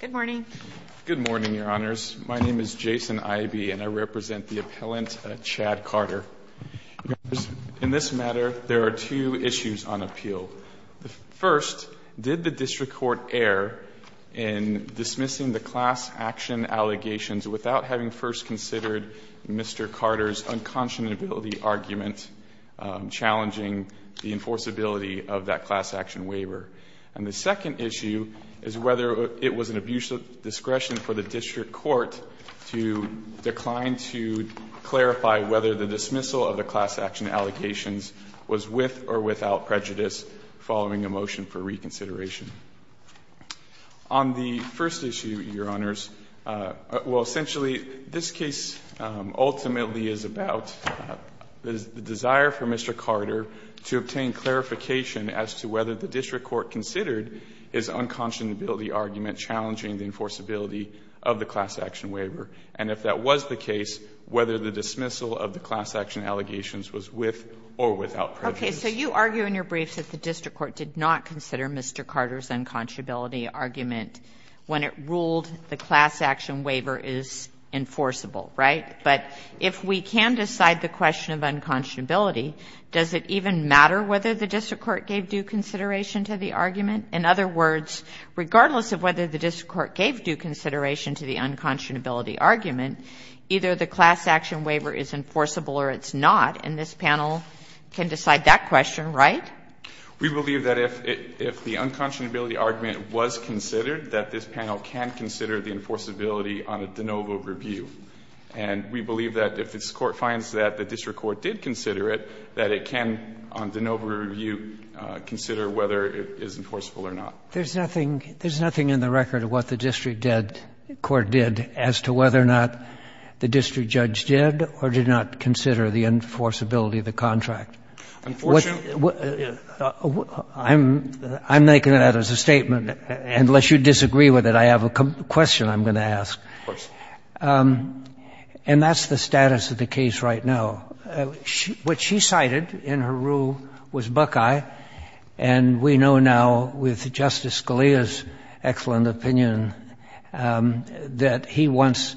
Good morning. Good morning, Your Honors. My name is Jason Ivey, and I represent the appellant, Chad Carter. In this matter, there are two issues on appeal. First, did the district court err in dismissing the class action allegations without having first considered Mr. Carter's unconscionability argument challenging the enforceability of that class action waiver? And the second issue is whether it was an abusive discretion for the district court to decline to clarify whether the dismissal of the class action allocations was with or without prejudice following a motion for reconsideration. On the first issue, Your Honors, well, essentially, this case ultimately is about the desire for the district court to consider its unconscionability argument challenging the enforceability of the class action waiver. And if that was the case, whether the dismissal of the class action allegations was with or without prejudice. Okay. So you argue in your briefs that the district court did not consider Mr. Carter's unconscionability argument when it ruled the class action waiver is enforceable, right? But if we can decide the question of unconscionability, does it even matter whether the district court gave due consideration to the argument? In other words, regardless of whether the district court gave due consideration to the unconscionability argument, either the class action waiver is enforceable or it's not. And this panel can decide that question, right? We believe that if the unconscionability argument was considered, that this panel can consider the enforceability on a de novo review. And we believe that if this Court finds that the district court did consider it, that it can, on de novo review, consider whether it is enforceable or not. There's nothing — there's nothing in the record of what the district court did as to whether or not the district judge did or did not consider the enforceability of the contract. Unfortunate? I'm making that as a statement. Unless you disagree with it, I have a question I'm going to ask. And that's the status of the case right now. What she cited in her rule was Buckeye. And we know now, with Justice Scalia's excellent opinion, that he wants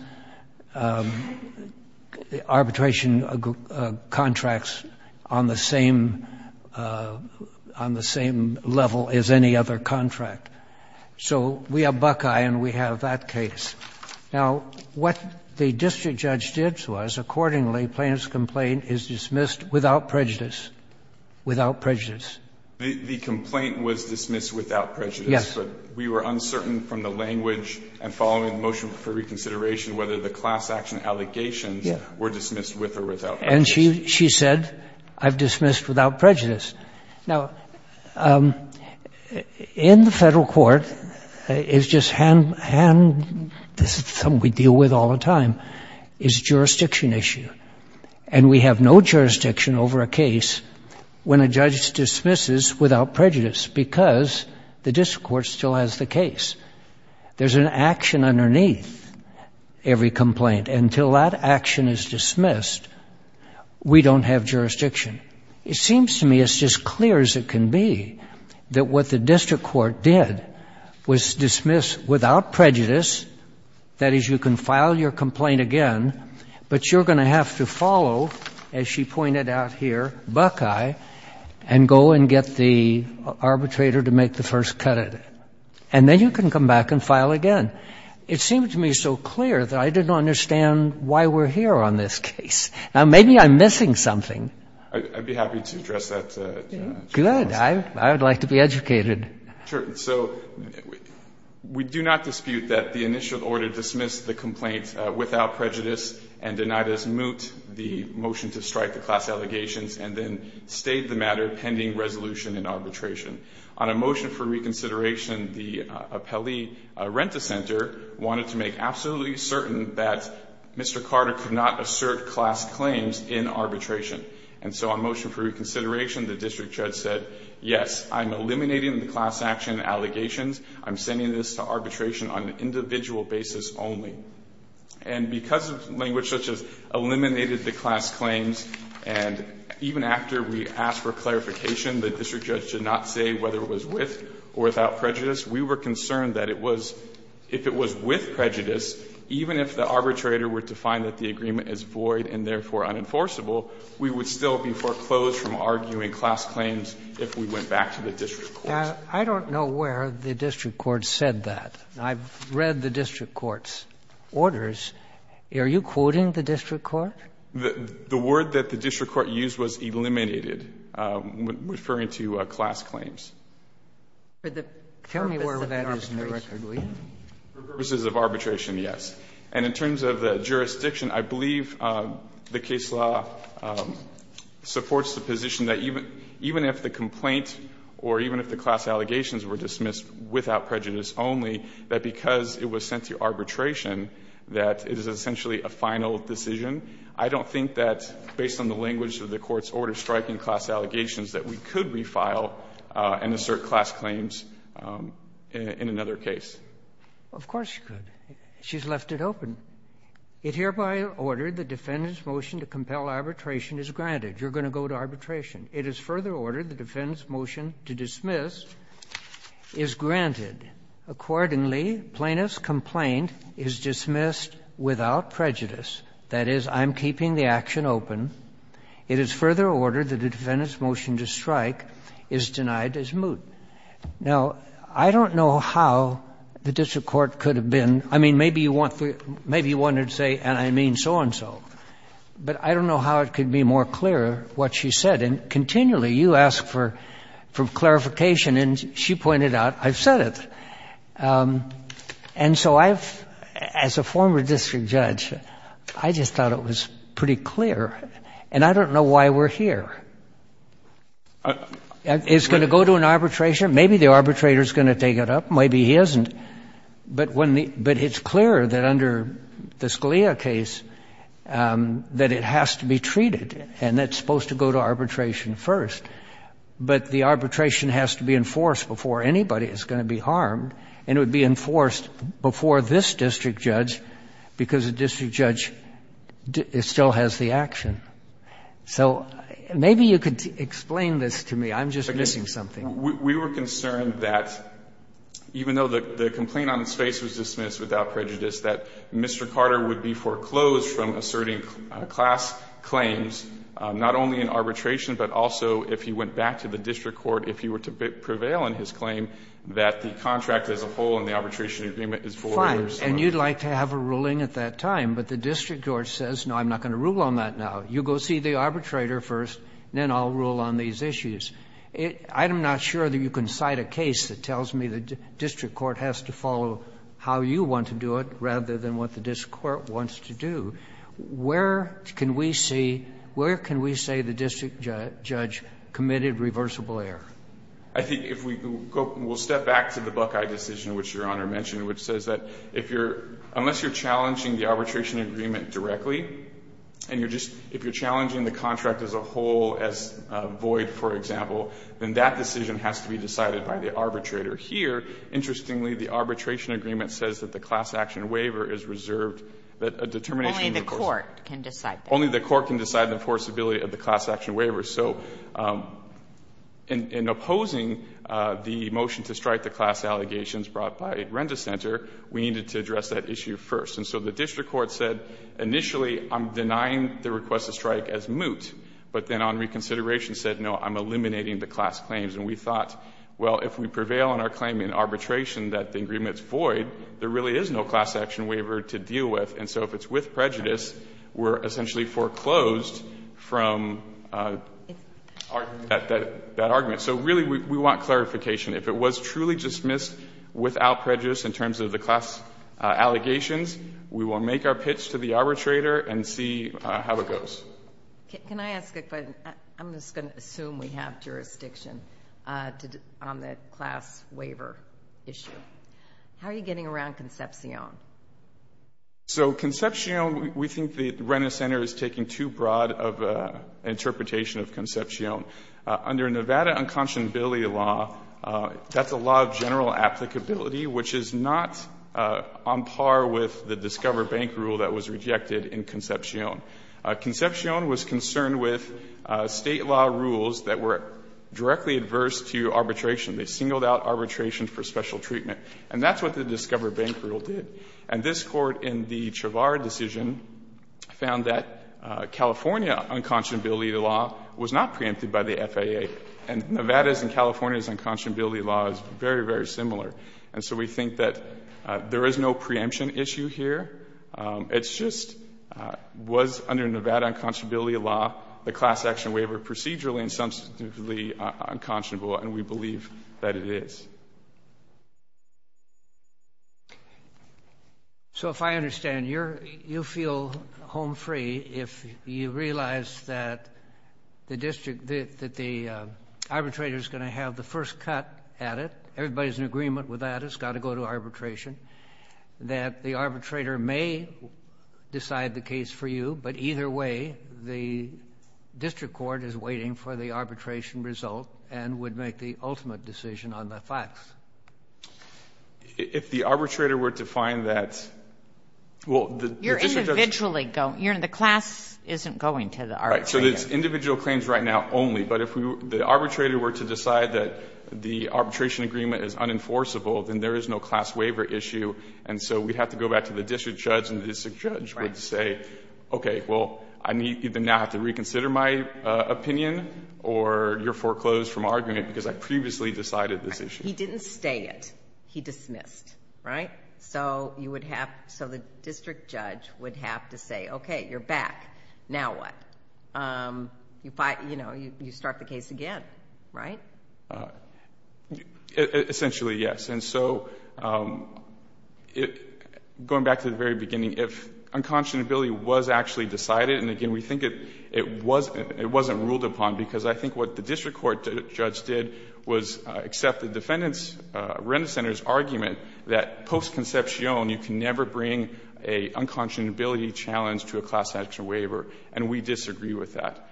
arbitration contracts on the same — on the same level as any other contract. So we have Buckeye and we have that case. Now, what the district judge did was, accordingly, plaintiff's complaint is dismissed without prejudice. Without prejudice. The complaint was dismissed without prejudice. Yes. But we were uncertain from the language and following the motion for reconsideration whether the class action allegations were dismissed with or without prejudice. And she said, I've dismissed without prejudice. Now, in the federal court, it's just hand — this is something we deal with all the time — is a jurisdiction issue. And we have no jurisdiction over a case when a judge dismisses without prejudice because the district court still has the case. There's an action underneath every complaint. Until that action is dismissed, we don't have jurisdiction. It seems to me it's just clear as it can be that what the district court did was dismiss without prejudice. That is, you can file your complaint again, but you're going to have to follow, as she pointed out here, Buckeye, and go and get the arbitrator to make the first cut at it. And then you can come back and file again. It seemed to me so clear that I didn't understand why we're here on this case. Now, maybe I'm missing something. I'd be happy to address that, Justice Kagan. Good. I would like to be educated. So we do not dispute that the initial order dismissed the complaint without prejudice and denied us moot, the motion to strike the class allegations, and then stayed the matter pending resolution in arbitration. On a motion for reconsideration, the appellee, Renta Center, wanted to make absolutely certain that Mr. Carter could not assert class claims in arbitration. And so on motion for reconsideration, the district judge said, yes, I'm eliminating the class action allegations. I'm sending this to arbitration on an individual basis only. And because of language such as eliminated the class claims, and even after we asked for clarification, the district judge did not say whether it was with or without prejudice. We were concerned that it was, if it was with prejudice, even if the arbitrator were to find that the agreement is void and therefore unenforceable, we would still be foreclosed from arguing class claims if we went back to the district court. I don't know where the district court said that. I've read the district court's orders. Are you quoting the district court? The word that the district court used was eliminated, referring to class claims. Tell me where that is in the record, please. For purposes of arbitration, yes. And in terms of the jurisdiction, I believe the case law supports the position that even if the complaint or even if the class allegations were dismissed without prejudice only, that because it was sent to arbitration, that it is essentially a final decision. I don't think that, based on the language of the Court's order striking class allegations, that we could refile and assert class claims in another case. Of course you could. She's left it open. It hereby ordered the defendant's motion to compel arbitration is granted. You're going to go to arbitration. It is further ordered the defendant's motion to dismiss is granted. Accordingly, plaintiff's complaint is dismissed without prejudice. That is, I'm keeping the action open. It is further ordered that the defendant's motion to strike is denied as moot. Now, I don't know how the district court could have been, I mean, maybe you wanted to say, and I mean so and so. But I don't know how it could be more clear what she said. And continually, you ask for clarification, and she pointed out, I've said it. And so I've, as a former district judge, I just thought it was pretty clear. And I don't know why we're here. It's going to go to an arbitration. Maybe the arbitrator's going to take it up. Maybe he isn't. But it's clear that under the Scalia case, that it has to be treated. And that's supposed to go to arbitration first. But the arbitration has to be enforced before anybody is going to be harmed. And it would be enforced before this district judge, because the district judge still has the action. So maybe you could explain this to me. I'm just missing something. We were concerned that even though the complaint on its face was dismissed without prejudice, that Mr. Carter would be foreclosed from asserting class claims, not only in arbitration, but also if he went back to the district court, if he were to prevail in his claim, that the contract as a whole and the arbitration agreement is forwarded. Fine. And you'd like to have a ruling at that time. But the district court says, no, I'm not going to rule on that now. You go see the arbitrator first. Then I'll rule on these issues. I am not sure that you can cite a case that tells me the district court has to follow how you want to do it, rather than what the district court wants to do. Where can we say the district judge committed reversible error? I think if we go, we'll step back to the Buckeye decision, which Your Honor mentioned, which says that unless you're challenging the arbitration agreement directly, and if you're challenging the contract as a whole, as void, for example, then that decision has to be decided by the arbitrator. Here, interestingly, the arbitration agreement says that the class action waiver is reserved that a determination of the course- Only the court can decide that. Only the court can decide the forcibility of the class action waiver. So in opposing the motion to strike the class allegations brought by Renda Center, we needed to address that issue first. And so the district court said, initially, I'm denying the request to strike as moot. But then on reconsideration said, no, I'm eliminating the class claims. And we thought, well, if we prevail on our claim in arbitration that the agreement's void, there really is no class action waiver to deal with. And so if it's with prejudice, we're essentially foreclosed from that argument. So really, we want clarification. If it was truly dismissed without prejudice in terms of the class allegations, we will make our pitch to the arbitrator and see how it goes. Can I ask a question? I'm just gonna assume we have jurisdiction on the class waiver issue. How are you getting around Concepcion? So Concepcion, we think that Renda Center is taking too broad of an interpretation of Concepcion. Under Nevada unconscionability law, that's a law of general applicability, which is not on par with the Discover Bank rule that was rejected in Concepcion. Concepcion was concerned with state law rules that were directly adverse to arbitration. They singled out arbitration for special treatment. And that's what the Discover Bank rule did. And this court, in the Chavar decision, found that California unconscionability law was not preempted by the FAA. And Nevada's and California's unconscionability law is very, very similar. And so we think that there is no preemption issue here. It's just, was under Nevada unconscionability law, the class action waiver procedurally and substantively unconscionable? And we believe that it is. So if I understand, you feel home free if you realize that the arbitrator's going to have the first cut at it. Everybody's in agreement with that, it's got to go to arbitration. That the arbitrator may decide the case for you, but either way, the district court is waiting for the arbitration result and would make the ultimate decision on the facts. If the arbitrator were to find that, well, the district judge- You're individually going, you're in the class isn't going to the arbitrator. Right, so there's individual claims right now only. But if the arbitrator were to decide that the arbitration agreement is unenforceable, then there is no class waiver issue. And so we'd have to go back to the district judge and the district judge would say, okay, well, I need to now have to reconsider my opinion or you're foreclosed from arguing it because I previously decided this issue. He didn't stay it, he dismissed, right? So you would have, so the district judge would have to say, okay, you're back, now what, you start the case again, right? Essentially, yes, and so going back to the very beginning, if unconscionability was actually decided, and again, we think it wasn't ruled upon because I think what the district court judge did was accept the defendant's, Renta Center's argument that post-conception, you can never bring a unconscionability challenge to a class action waiver. And we disagree with that.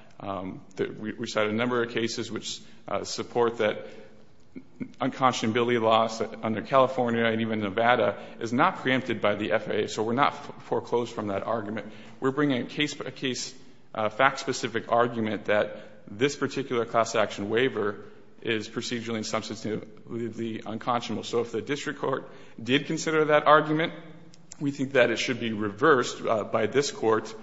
We cited a number of cases which support that unconscionability laws under California and even Nevada is not preempted by the FAA, so we're not foreclosed from that argument. We're bringing a case, a fact-specific argument that this particular class action waiver is procedurally and substantively unconscionable. So if the district court did consider that argument, we think that it should be reversed by this court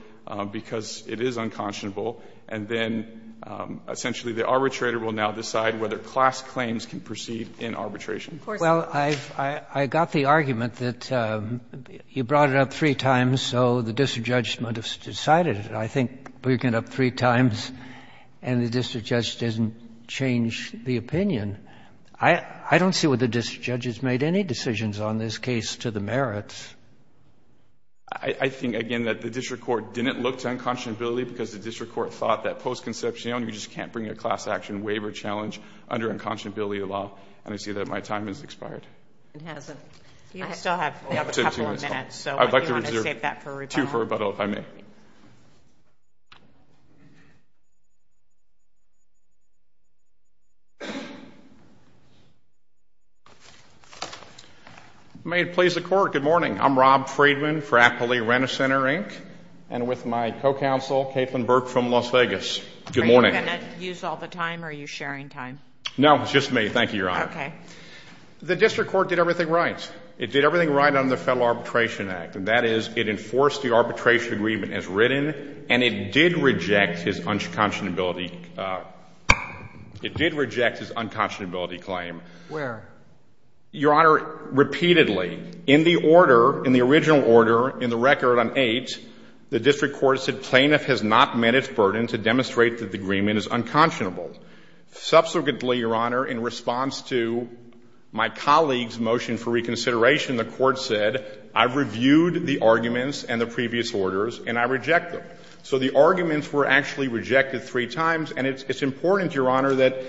because it is unconscionable. And then essentially the arbitrator will now decide whether class claims can proceed in arbitration. Well, I've got the argument that you brought it up three times, so the district judge might have decided it. I think bringing it up three times and the district judge doesn't change the opinion. I don't see what the district judge has made any decisions on this case to the merits. I think, again, that the district court didn't look to unconscionability because the district court thought that post-conception, you just can't bring a class action waiver challenge under unconscionability law. And I see that my time has expired. It hasn't. You still have a couple of minutes. I'd like to reserve two for rebuttal, if I may. May it please the court, good morning. I'm Rob Friedman for Appley Rent-A-Center, Inc. And with my co-counsel, Caitlin Burke from Las Vegas. Good morning. Are you going to use all the time or are you sharing time? No, it's just me. Thank you, Your Honor. OK. The district court did everything right. It did everything right under the Federal Arbitration Act. And that is, it enforced the arbitration agreement as written. And it did reject his unconscionability claim. Where? Your Honor, repeatedly. In the original order, in the record on 8, the district court said plaintiff has not met its burden to demonstrate that the agreement is unconscionable. Subsequently, Your Honor, in response to my colleague's motion for reconsideration, the court said, I've reviewed the arguments and the previous orders and I reject them. So the arguments were actually rejected three times. And it's important, Your Honor, that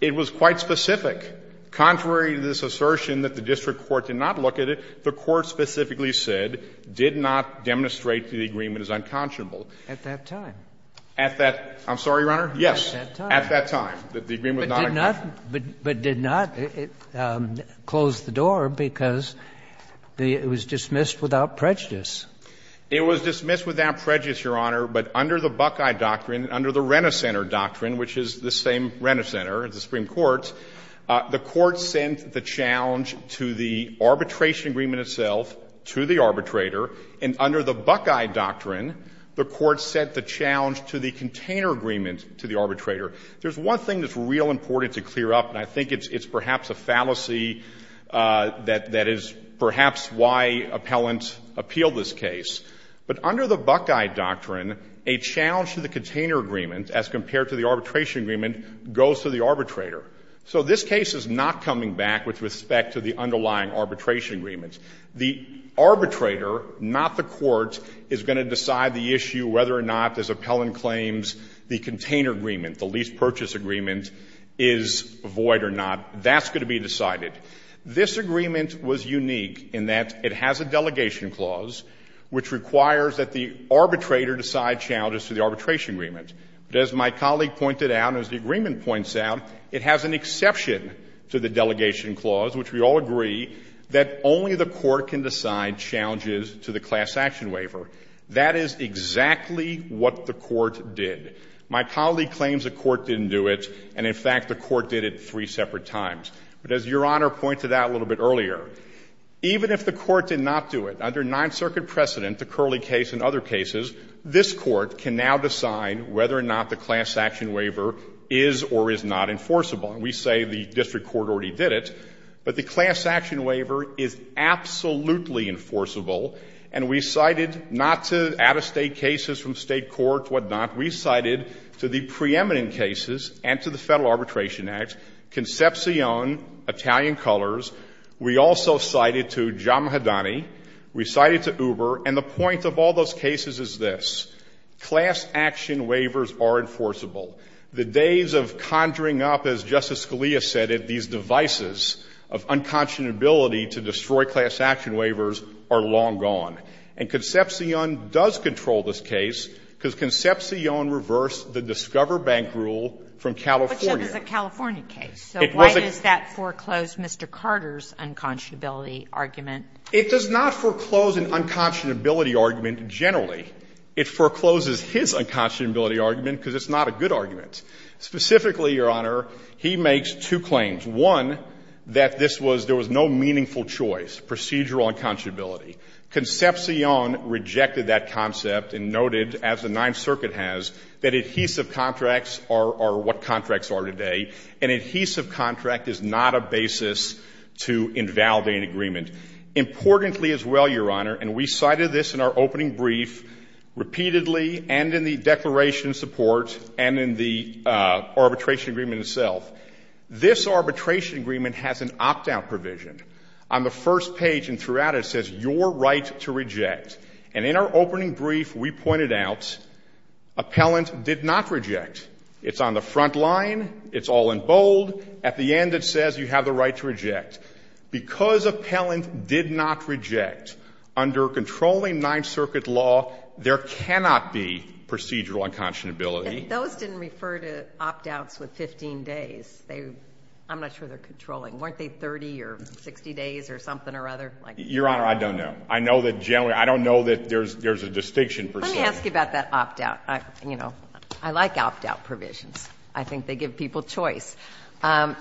it was quite specific. Contrary to this assertion that the district court did not look at it, the court specifically said, did not demonstrate the agreement is unconscionable. At that time? At that, I'm sorry, Your Honor? Yes. At that time. That the agreement was not unconscionable. But did not close the door because it was dismissed without prejudice. It was dismissed without prejudice, Your Honor. But under the Buckeye Doctrine, under the Renner Center Doctrine, which is the same Renner Center as the Supreme Court, the court sent the challenge to the arbitration agreement itself, to the arbitrator. And under the Buckeye Doctrine, the court sent the challenge to the container agreement to the arbitrator. There's one thing that's real important to clear up, and I think it's perhaps a fallacy that is perhaps why appellants appeal this case. But under the Buckeye Doctrine, a challenge to the container agreement, as compared to the arbitration agreement, goes to the arbitrator. So this case is not coming back with respect to the underlying arbitration agreements. The arbitrator, not the court, is going to decide the issue whether or not someone claims the container agreement, the lease purchase agreement, is void or not. That's going to be decided. This agreement was unique in that it has a delegation clause, which requires that the arbitrator decide challenges to the arbitration agreement. But as my colleague pointed out, as the agreement points out, it has an exception to the delegation clause, which we all agree, that only the court can decide challenges to the class action waiver. That is exactly what the court did. My colleague claims the court didn't do it, and in fact, the court did it three separate times. But as Your Honor pointed out a little bit earlier, even if the court did not do it, under Ninth Circuit precedent, the Curley case and other cases, this court can now decide whether or not the class action waiver is or is not enforceable. And we say the district court already did it. But the class action waiver is absolutely enforceable. And we cited not to out of state cases from state court, what not. We cited to the preeminent cases and to the Federal Arbitration Act, Concepcion, Italian colors. We also cited to Giammaddani. We cited to Uber. And the point of all those cases is this, class action waivers are enforceable. The days of conjuring up, as Justice Scalia said it, these devices of unconscionability to destroy class action waivers are long gone. And Concepcion does control this case because Concepcion reversed the Discover Bank rule from California. But that was a California case. So why does that foreclose Mr. Carter's unconscionability argument? It does not foreclose an unconscionability argument generally. It forecloses his unconscionability argument because it's not a good argument. Specifically, Your Honor, he makes two claims. One, that this was, there was no meaningful choice, procedural unconscionability. Concepcion rejected that concept and noted, as the Ninth Circuit has, that adhesive contracts are what contracts are today. An adhesive contract is not a basis to invalidate an agreement. Importantly as well, Your Honor, and we cited this in our opening brief repeatedly and in the declaration support and in the arbitration agreement itself. This arbitration agreement has an opt-out provision. On the first page and throughout it says, your right to reject. And in our opening brief, we pointed out, appellant did not reject. It's on the front line. It's all in bold. At the end, it says you have the right to reject. Because appellant did not reject, under controlling Ninth Circuit law, there cannot be procedural unconscionability. And those didn't refer to opt-outs with 15 days. I'm not sure they're controlling. Weren't they 30 or 60 days or something or other? Your Honor, I don't know. I know that generally, I don't know that there's a distinction. Let me ask you about that opt-out. You know, I like opt-out provisions. I think they give people choice.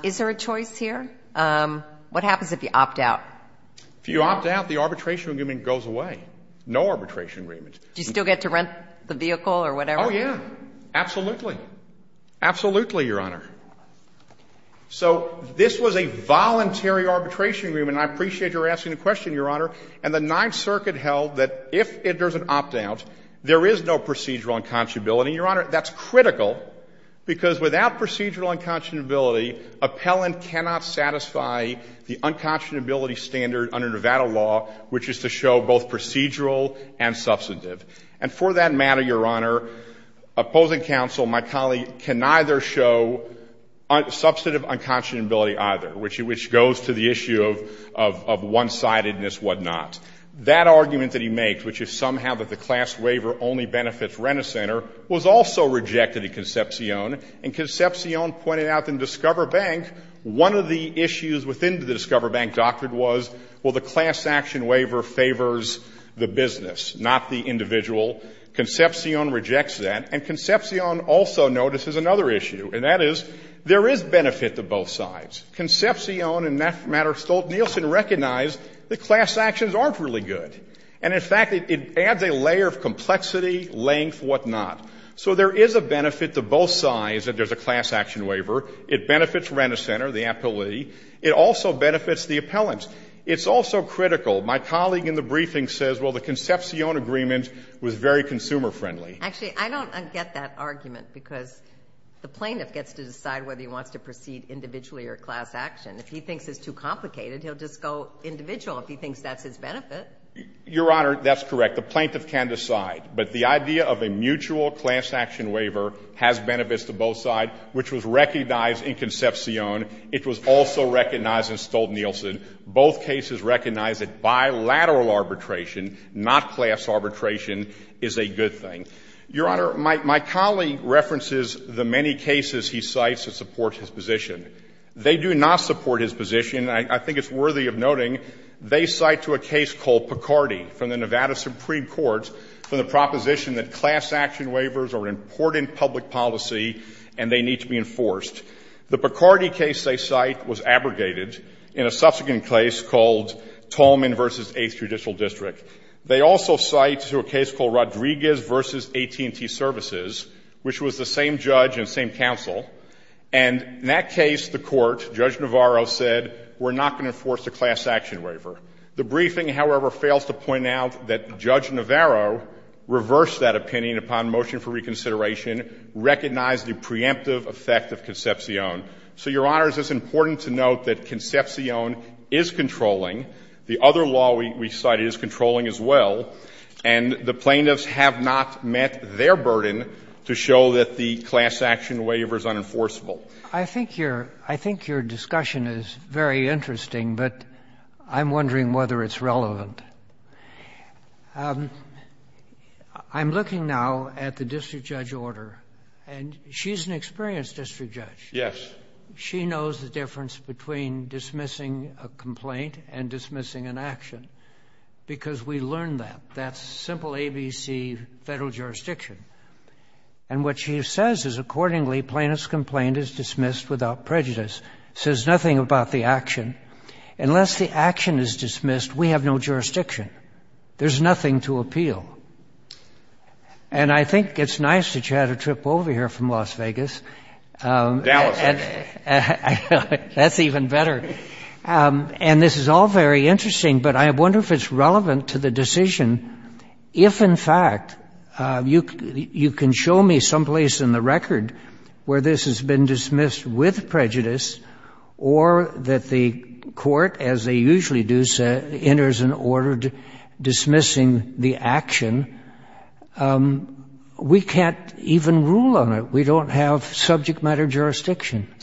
Is there a choice here? What happens if you opt-out? If you opt-out, the arbitration agreement goes away. No arbitration agreement. Do you still get to rent the vehicle or whatever? Oh, yeah. Absolutely. Absolutely, Your Honor. So this was a voluntary arbitration agreement. I appreciate your asking the question, Your Honor. And the Ninth Circuit held that if there's an opt-out, there is no procedural unconscionability. Your Honor, that's critical, because without procedural unconscionability, appellant cannot satisfy the unconscionability standard under Nevada law, which is to show both procedural and substantive. And for that matter, Your Honor, opposing counsel, my colleague, can neither show substantive unconscionability either, which goes to the issue of one-sidedness, whatnot. That argument that he made, which is somehow that the class waiver only benefits rent-a-center, was also rejected in Concepcion. And Concepcion pointed out in Discover Bank, one of the issues within the Discover Bank doctrine was, well, the class action waiver favors the business, not the individual. Concepcion rejects that. And Concepcion also notices another issue, and that is there is benefit to both sides. Concepcion, in that matter, Stolt-Nielsen recognized that class actions aren't really good. And in fact, it adds a layer of complexity, length, whatnot. So there is a benefit to both sides that there's a class action waiver. It benefits rent-a-center, the appellee. It also benefits the appellant. It's also critical. My colleague in the briefing says, well, the Concepcion agreement was very consumer friendly. Actually, I don't get that argument, because the plaintiff gets to decide whether he wants to proceed individually or class action. If he thinks it's too complicated, he'll just go individual if he thinks that's his benefit. Your Honor, that's correct. The plaintiff can decide. But the idea of a mutual class action waiver has benefits to both sides, which was recognized in Concepcion. It was also recognized in Stolt-Nielsen. Both cases recognize that bilateral arbitration, not class arbitration, is a good thing. Your Honor, my colleague references the many cases he cites that support his position. They do not support his position. I think it's worthy of noting they cite to a case called Picardy from the Nevada Supreme Court for the proposition that class action waivers are an important public policy, and they need to be enforced. The Picardy case they cite was abrogated in a subsequent case called Tolman v. 8th Judicial District. They also cite to a case called Rodriguez v. AT&T Services, which was the same judge and same counsel. And in that case, the Court, Judge Navarro said, we're not going to enforce a class action waiver. The briefing, however, fails to point out that Judge Navarro reversed that opinion upon motion for reconsideration, recognized the preemptive effect of Concepcion. So, Your Honor, it's important to note that Concepcion is controlling. The other law we cite is controlling as well. And the plaintiffs have not met their burden to show that the class action waiver is unenforceable. I think your discussion is very interesting, but I'm wondering whether it's relevant. I'm looking now at the district judge order, and she's an experienced district judge. Yes. She knows the difference between dismissing a complaint and dismissing an action, because we learned that. That's simple ABC federal jurisdiction. And what she says is, accordingly, plaintiff's complaint is dismissed without prejudice. Says nothing about the action. Unless the action is dismissed, we have no jurisdiction. There's nothing to appeal. And I think it's nice that you had a trip over here from Las Vegas. Dallas. That's even better. And this is all very interesting, but I wonder if it's relevant to the decision if, in fact, you can show me someplace in the record where this has been dismissed with prejudice, or that the court, as they usually do, enters an order dismissing the action, we can't even rule on it. We don't have subject matter jurisdiction.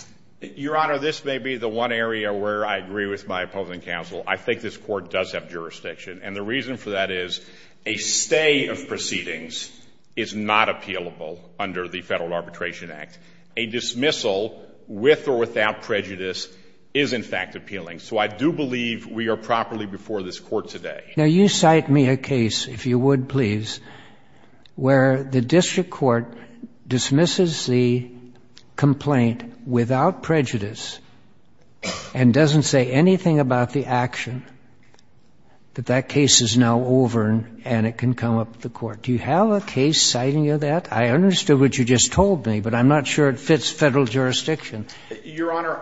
Your Honor, this may be the one area where I agree with my opposing counsel. I think this court does have jurisdiction. And the reason for that is a stay of proceedings is not appealable under the Federal Arbitration Act. A dismissal with or without prejudice is, in fact, appealing. So I do believe we are properly before this court today. Now you cite me a case, if you would please, where the district court dismisses the complaint without prejudice and doesn't say anything about the action, that that case is now over and it can come up to the court. Do you have a case citing you that? I understood what you just told me, but I'm not sure it fits Federal jurisdiction. Your Honor,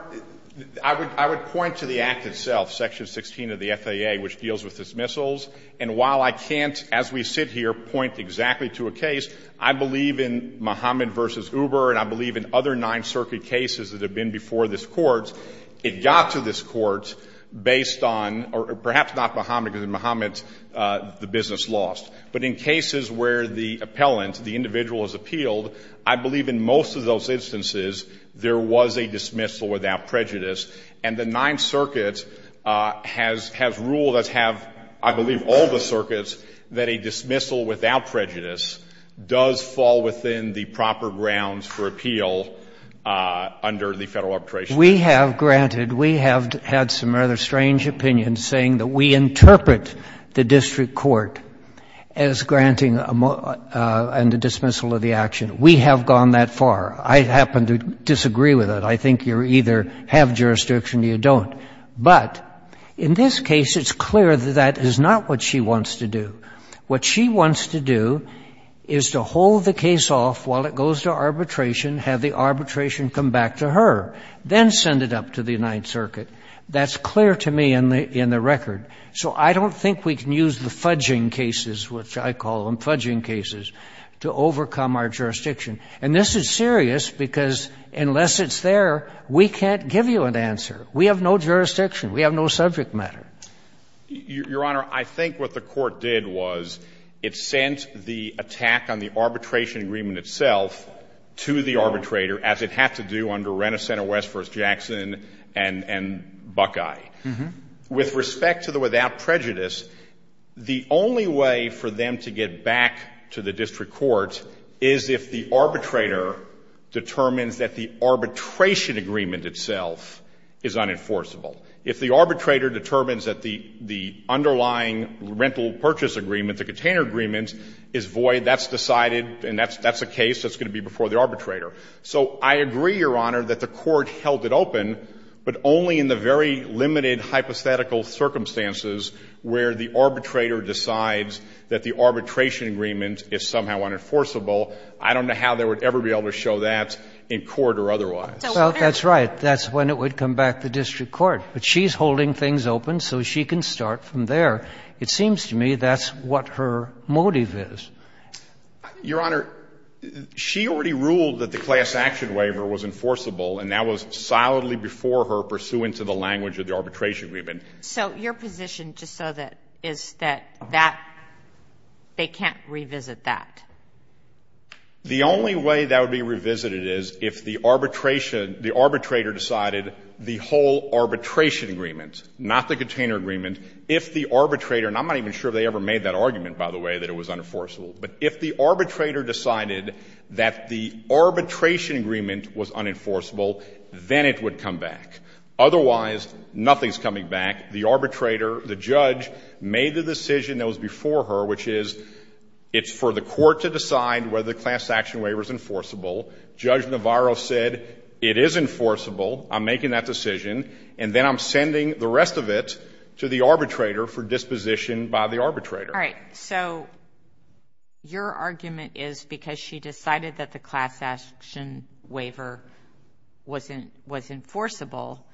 I would point to the act itself, Section 16 of the FAA, which deals with dismissals. And while I can't, as we sit here, point exactly to a case, I believe in Mohammed v. Uber and I believe in other Ninth Circuit cases that have been before this court, it got to this court based on, or perhaps not Mohammed, because in Mohammed the business lost. But in cases where the appellant, the individual is appealed, I believe in most of those instances there was a dismissal without prejudice. And the Ninth Circuit has ruled, as have I believe all the circuits, that a dismissal without prejudice does fall within the proper grounds for appeal under the Federal Arbitration Act. We have, granted, we have had some rather strange opinions saying that we interpret the district court as granting a dismissal of the action. We have gone that far. I happen to disagree with it. I think you either have jurisdiction or you don't. But in this case, it's clear that that is not what she wants to do. What she wants to do is to hold the case off while it goes to arbitration, have the arbitration come back to her, then send it up to the Ninth Circuit. That's clear to me in the record. So I don't think we can use the fudging cases, which I call them fudging cases, to overcome our jurisdiction. And this is serious because unless it's there, we can't give you an answer. We have no jurisdiction. We have no subject matter. Your Honor, I think what the court did was it sent the attack on the arbitration agreement itself to the arbitrator, as it had to do under Renaissance or West v. Jackson and Buckeye. With respect to the without prejudice, the only way for them to get back to the district court is if the arbitrator determines that the arbitration agreement itself is unenforceable. If the arbitrator determines that the underlying rental purchase agreement, the container agreement, is void, that's decided and that's a case that's going to be before the arbitrator. So I agree, Your Honor, that the court held it open, but only in the very limited hypothetical circumstances where the arbitrator decides that the arbitration agreement is somehow unenforceable. I don't know how they would ever be able to show that in court or otherwise. Well, that's right. That's when it would come back to district court. But she's holding things open, so she can start from there. It seems to me that's what her motive is. Your Honor, she already ruled that the class action waiver was enforceable, and that was solidly before her pursuant to the language of the arbitration agreement. So your position is that they can't revisit that? The only way that would be revisited is if the arbitrator decided the whole arbitration agreement, not the container agreement. If the arbitrator, and I'm not even sure if they ever made that argument, by the way, that it was unenforceable. But if the arbitrator decided that the arbitration agreement was unenforceable, then it would come back. Otherwise, nothing's coming back. The arbitrator, the judge, made the decision that was before her, which is it's for the court to decide whether the class action waiver is enforceable. Judge Navarro said it is enforceable. I'm making that decision. And then I'm sending the rest of it to the arbitrator for disposition by the arbitrator. All right. So your argument is because she decided that the class action waiver was enforceable,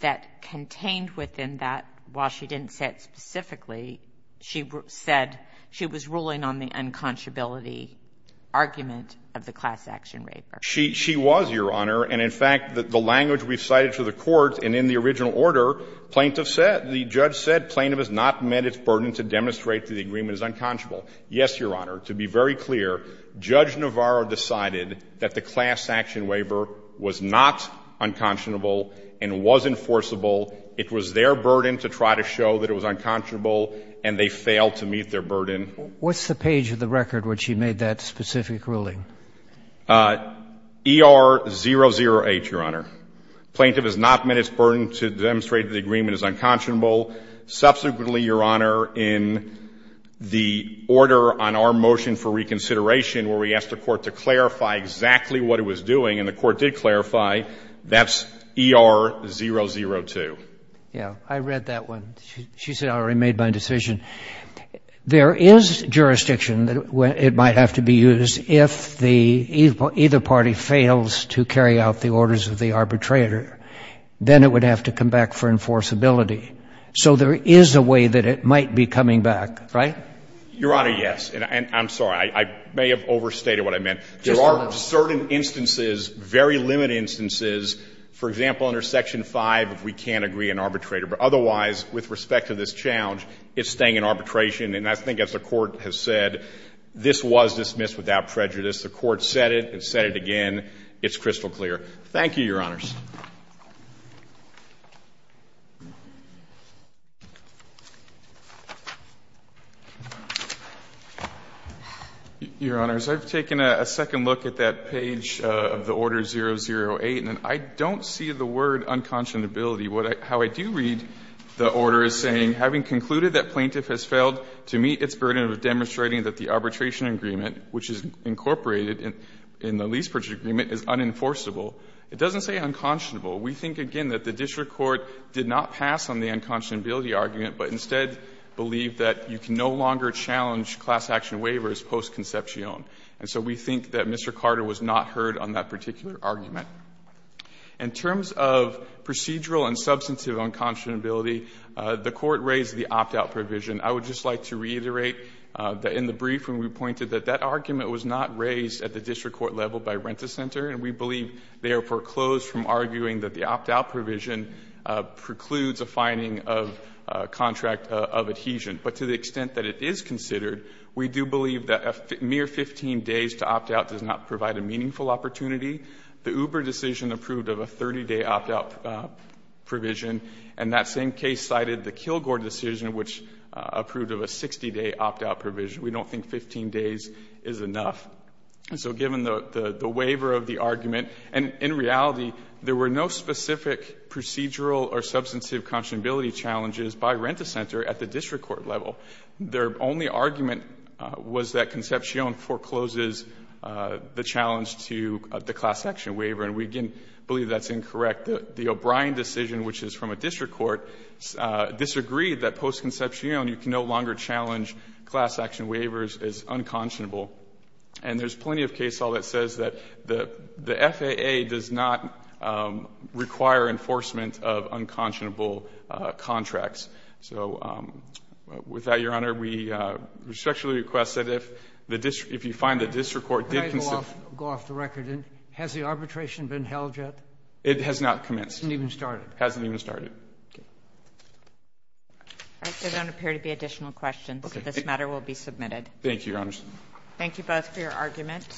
that contained within that, while she didn't say it specifically, she said she was ruling on the unconscionability argument of the class action waiver. She was, Your Honor. And in fact, the language we've cited to the court, and in the original order, plaintiff said, the judge said plaintiff has not met its burden to demonstrate that the agreement is unconscionable. Yes, Your Honor. To be very clear, Judge Navarro decided that the class action waiver was not unconscionable and was enforceable. It was their burden to try to show that it was unconscionable, and they failed to meet their burden. What's the page of the record where she made that specific ruling? ER008, Your Honor. Plaintiff has not met its burden to demonstrate that the agreement is unconscionable. Subsequently, Your Honor, in the order on our motion for reconsideration where we asked the court to clarify exactly what it was doing, and the court did clarify, that's ER002. Yeah. I read that one. She said, I already made my decision. There is jurisdiction that it might have to be used if either party fails to carry out the orders of the arbitrator. Then it would have to come back for enforceability. So there is a way that it might be coming back, right? Your Honor, yes. I'm sorry. I may have overstated what I meant. There are certain instances, very limited instances, for example, under Section 5, if we can't agree an arbitrator. But otherwise, with respect to this challenge, it's staying in arbitration. And I think as the court has said, this was dismissed without prejudice. The court said it and said it again. It's crystal clear. Thank you, Your Honors. Your Honors, I've taken a second look at that page of the Order 008, and I don't see the word unconscionability. How I do read the order is saying, having concluded that plaintiff has failed to meet its burden of demonstrating that the arbitration agreement, which is incorporated in the lease purchase agreement, is unenforceable. It doesn't say unconscionable. We think, again, that the district court did not pass on the unconscionability argument, but instead believed that you can no longer challenge class action waivers post-conception. And so we think that Mr. Carter was not heard on that particular argument. In terms of procedural and substantive unconscionability, the court raised the opt-out provision. I would just like to reiterate that in the brief when we pointed that, that argument was not raised at the district court level by Renta Center, and we have therefore closed from arguing that the opt-out provision precludes a finding of contract of adhesion. But to the extent that it is considered, we do believe that a mere 15 days to opt-out does not provide a meaningful opportunity. The Uber decision approved of a 30-day opt-out provision, and that same case cited the Kilgore decision, which approved of a 60-day opt-out provision. We don't think 15 days is enough. And so given the waiver of the argument, and in reality, there were no specific procedural or substantive unconscionability challenges by Renta Center at the district court level. Their only argument was that Concepcion forecloses the challenge to the class action waiver, and we again believe that's incorrect. The O'Brien decision, which is from a district court, disagreed that post-conception you can no longer challenge class action waivers is unconscionable. And there's plenty of case law that says that the FAA does not require enforcement of unconscionable contracts. So with that, Your Honor, we respectfully request that if the district if you find the district court did consider Go off the record. Has the arbitration been held yet? It has not commenced. Hasn't even started. Hasn't even started. Okay. Thank you, Your Honors. Thank you both for your arguments.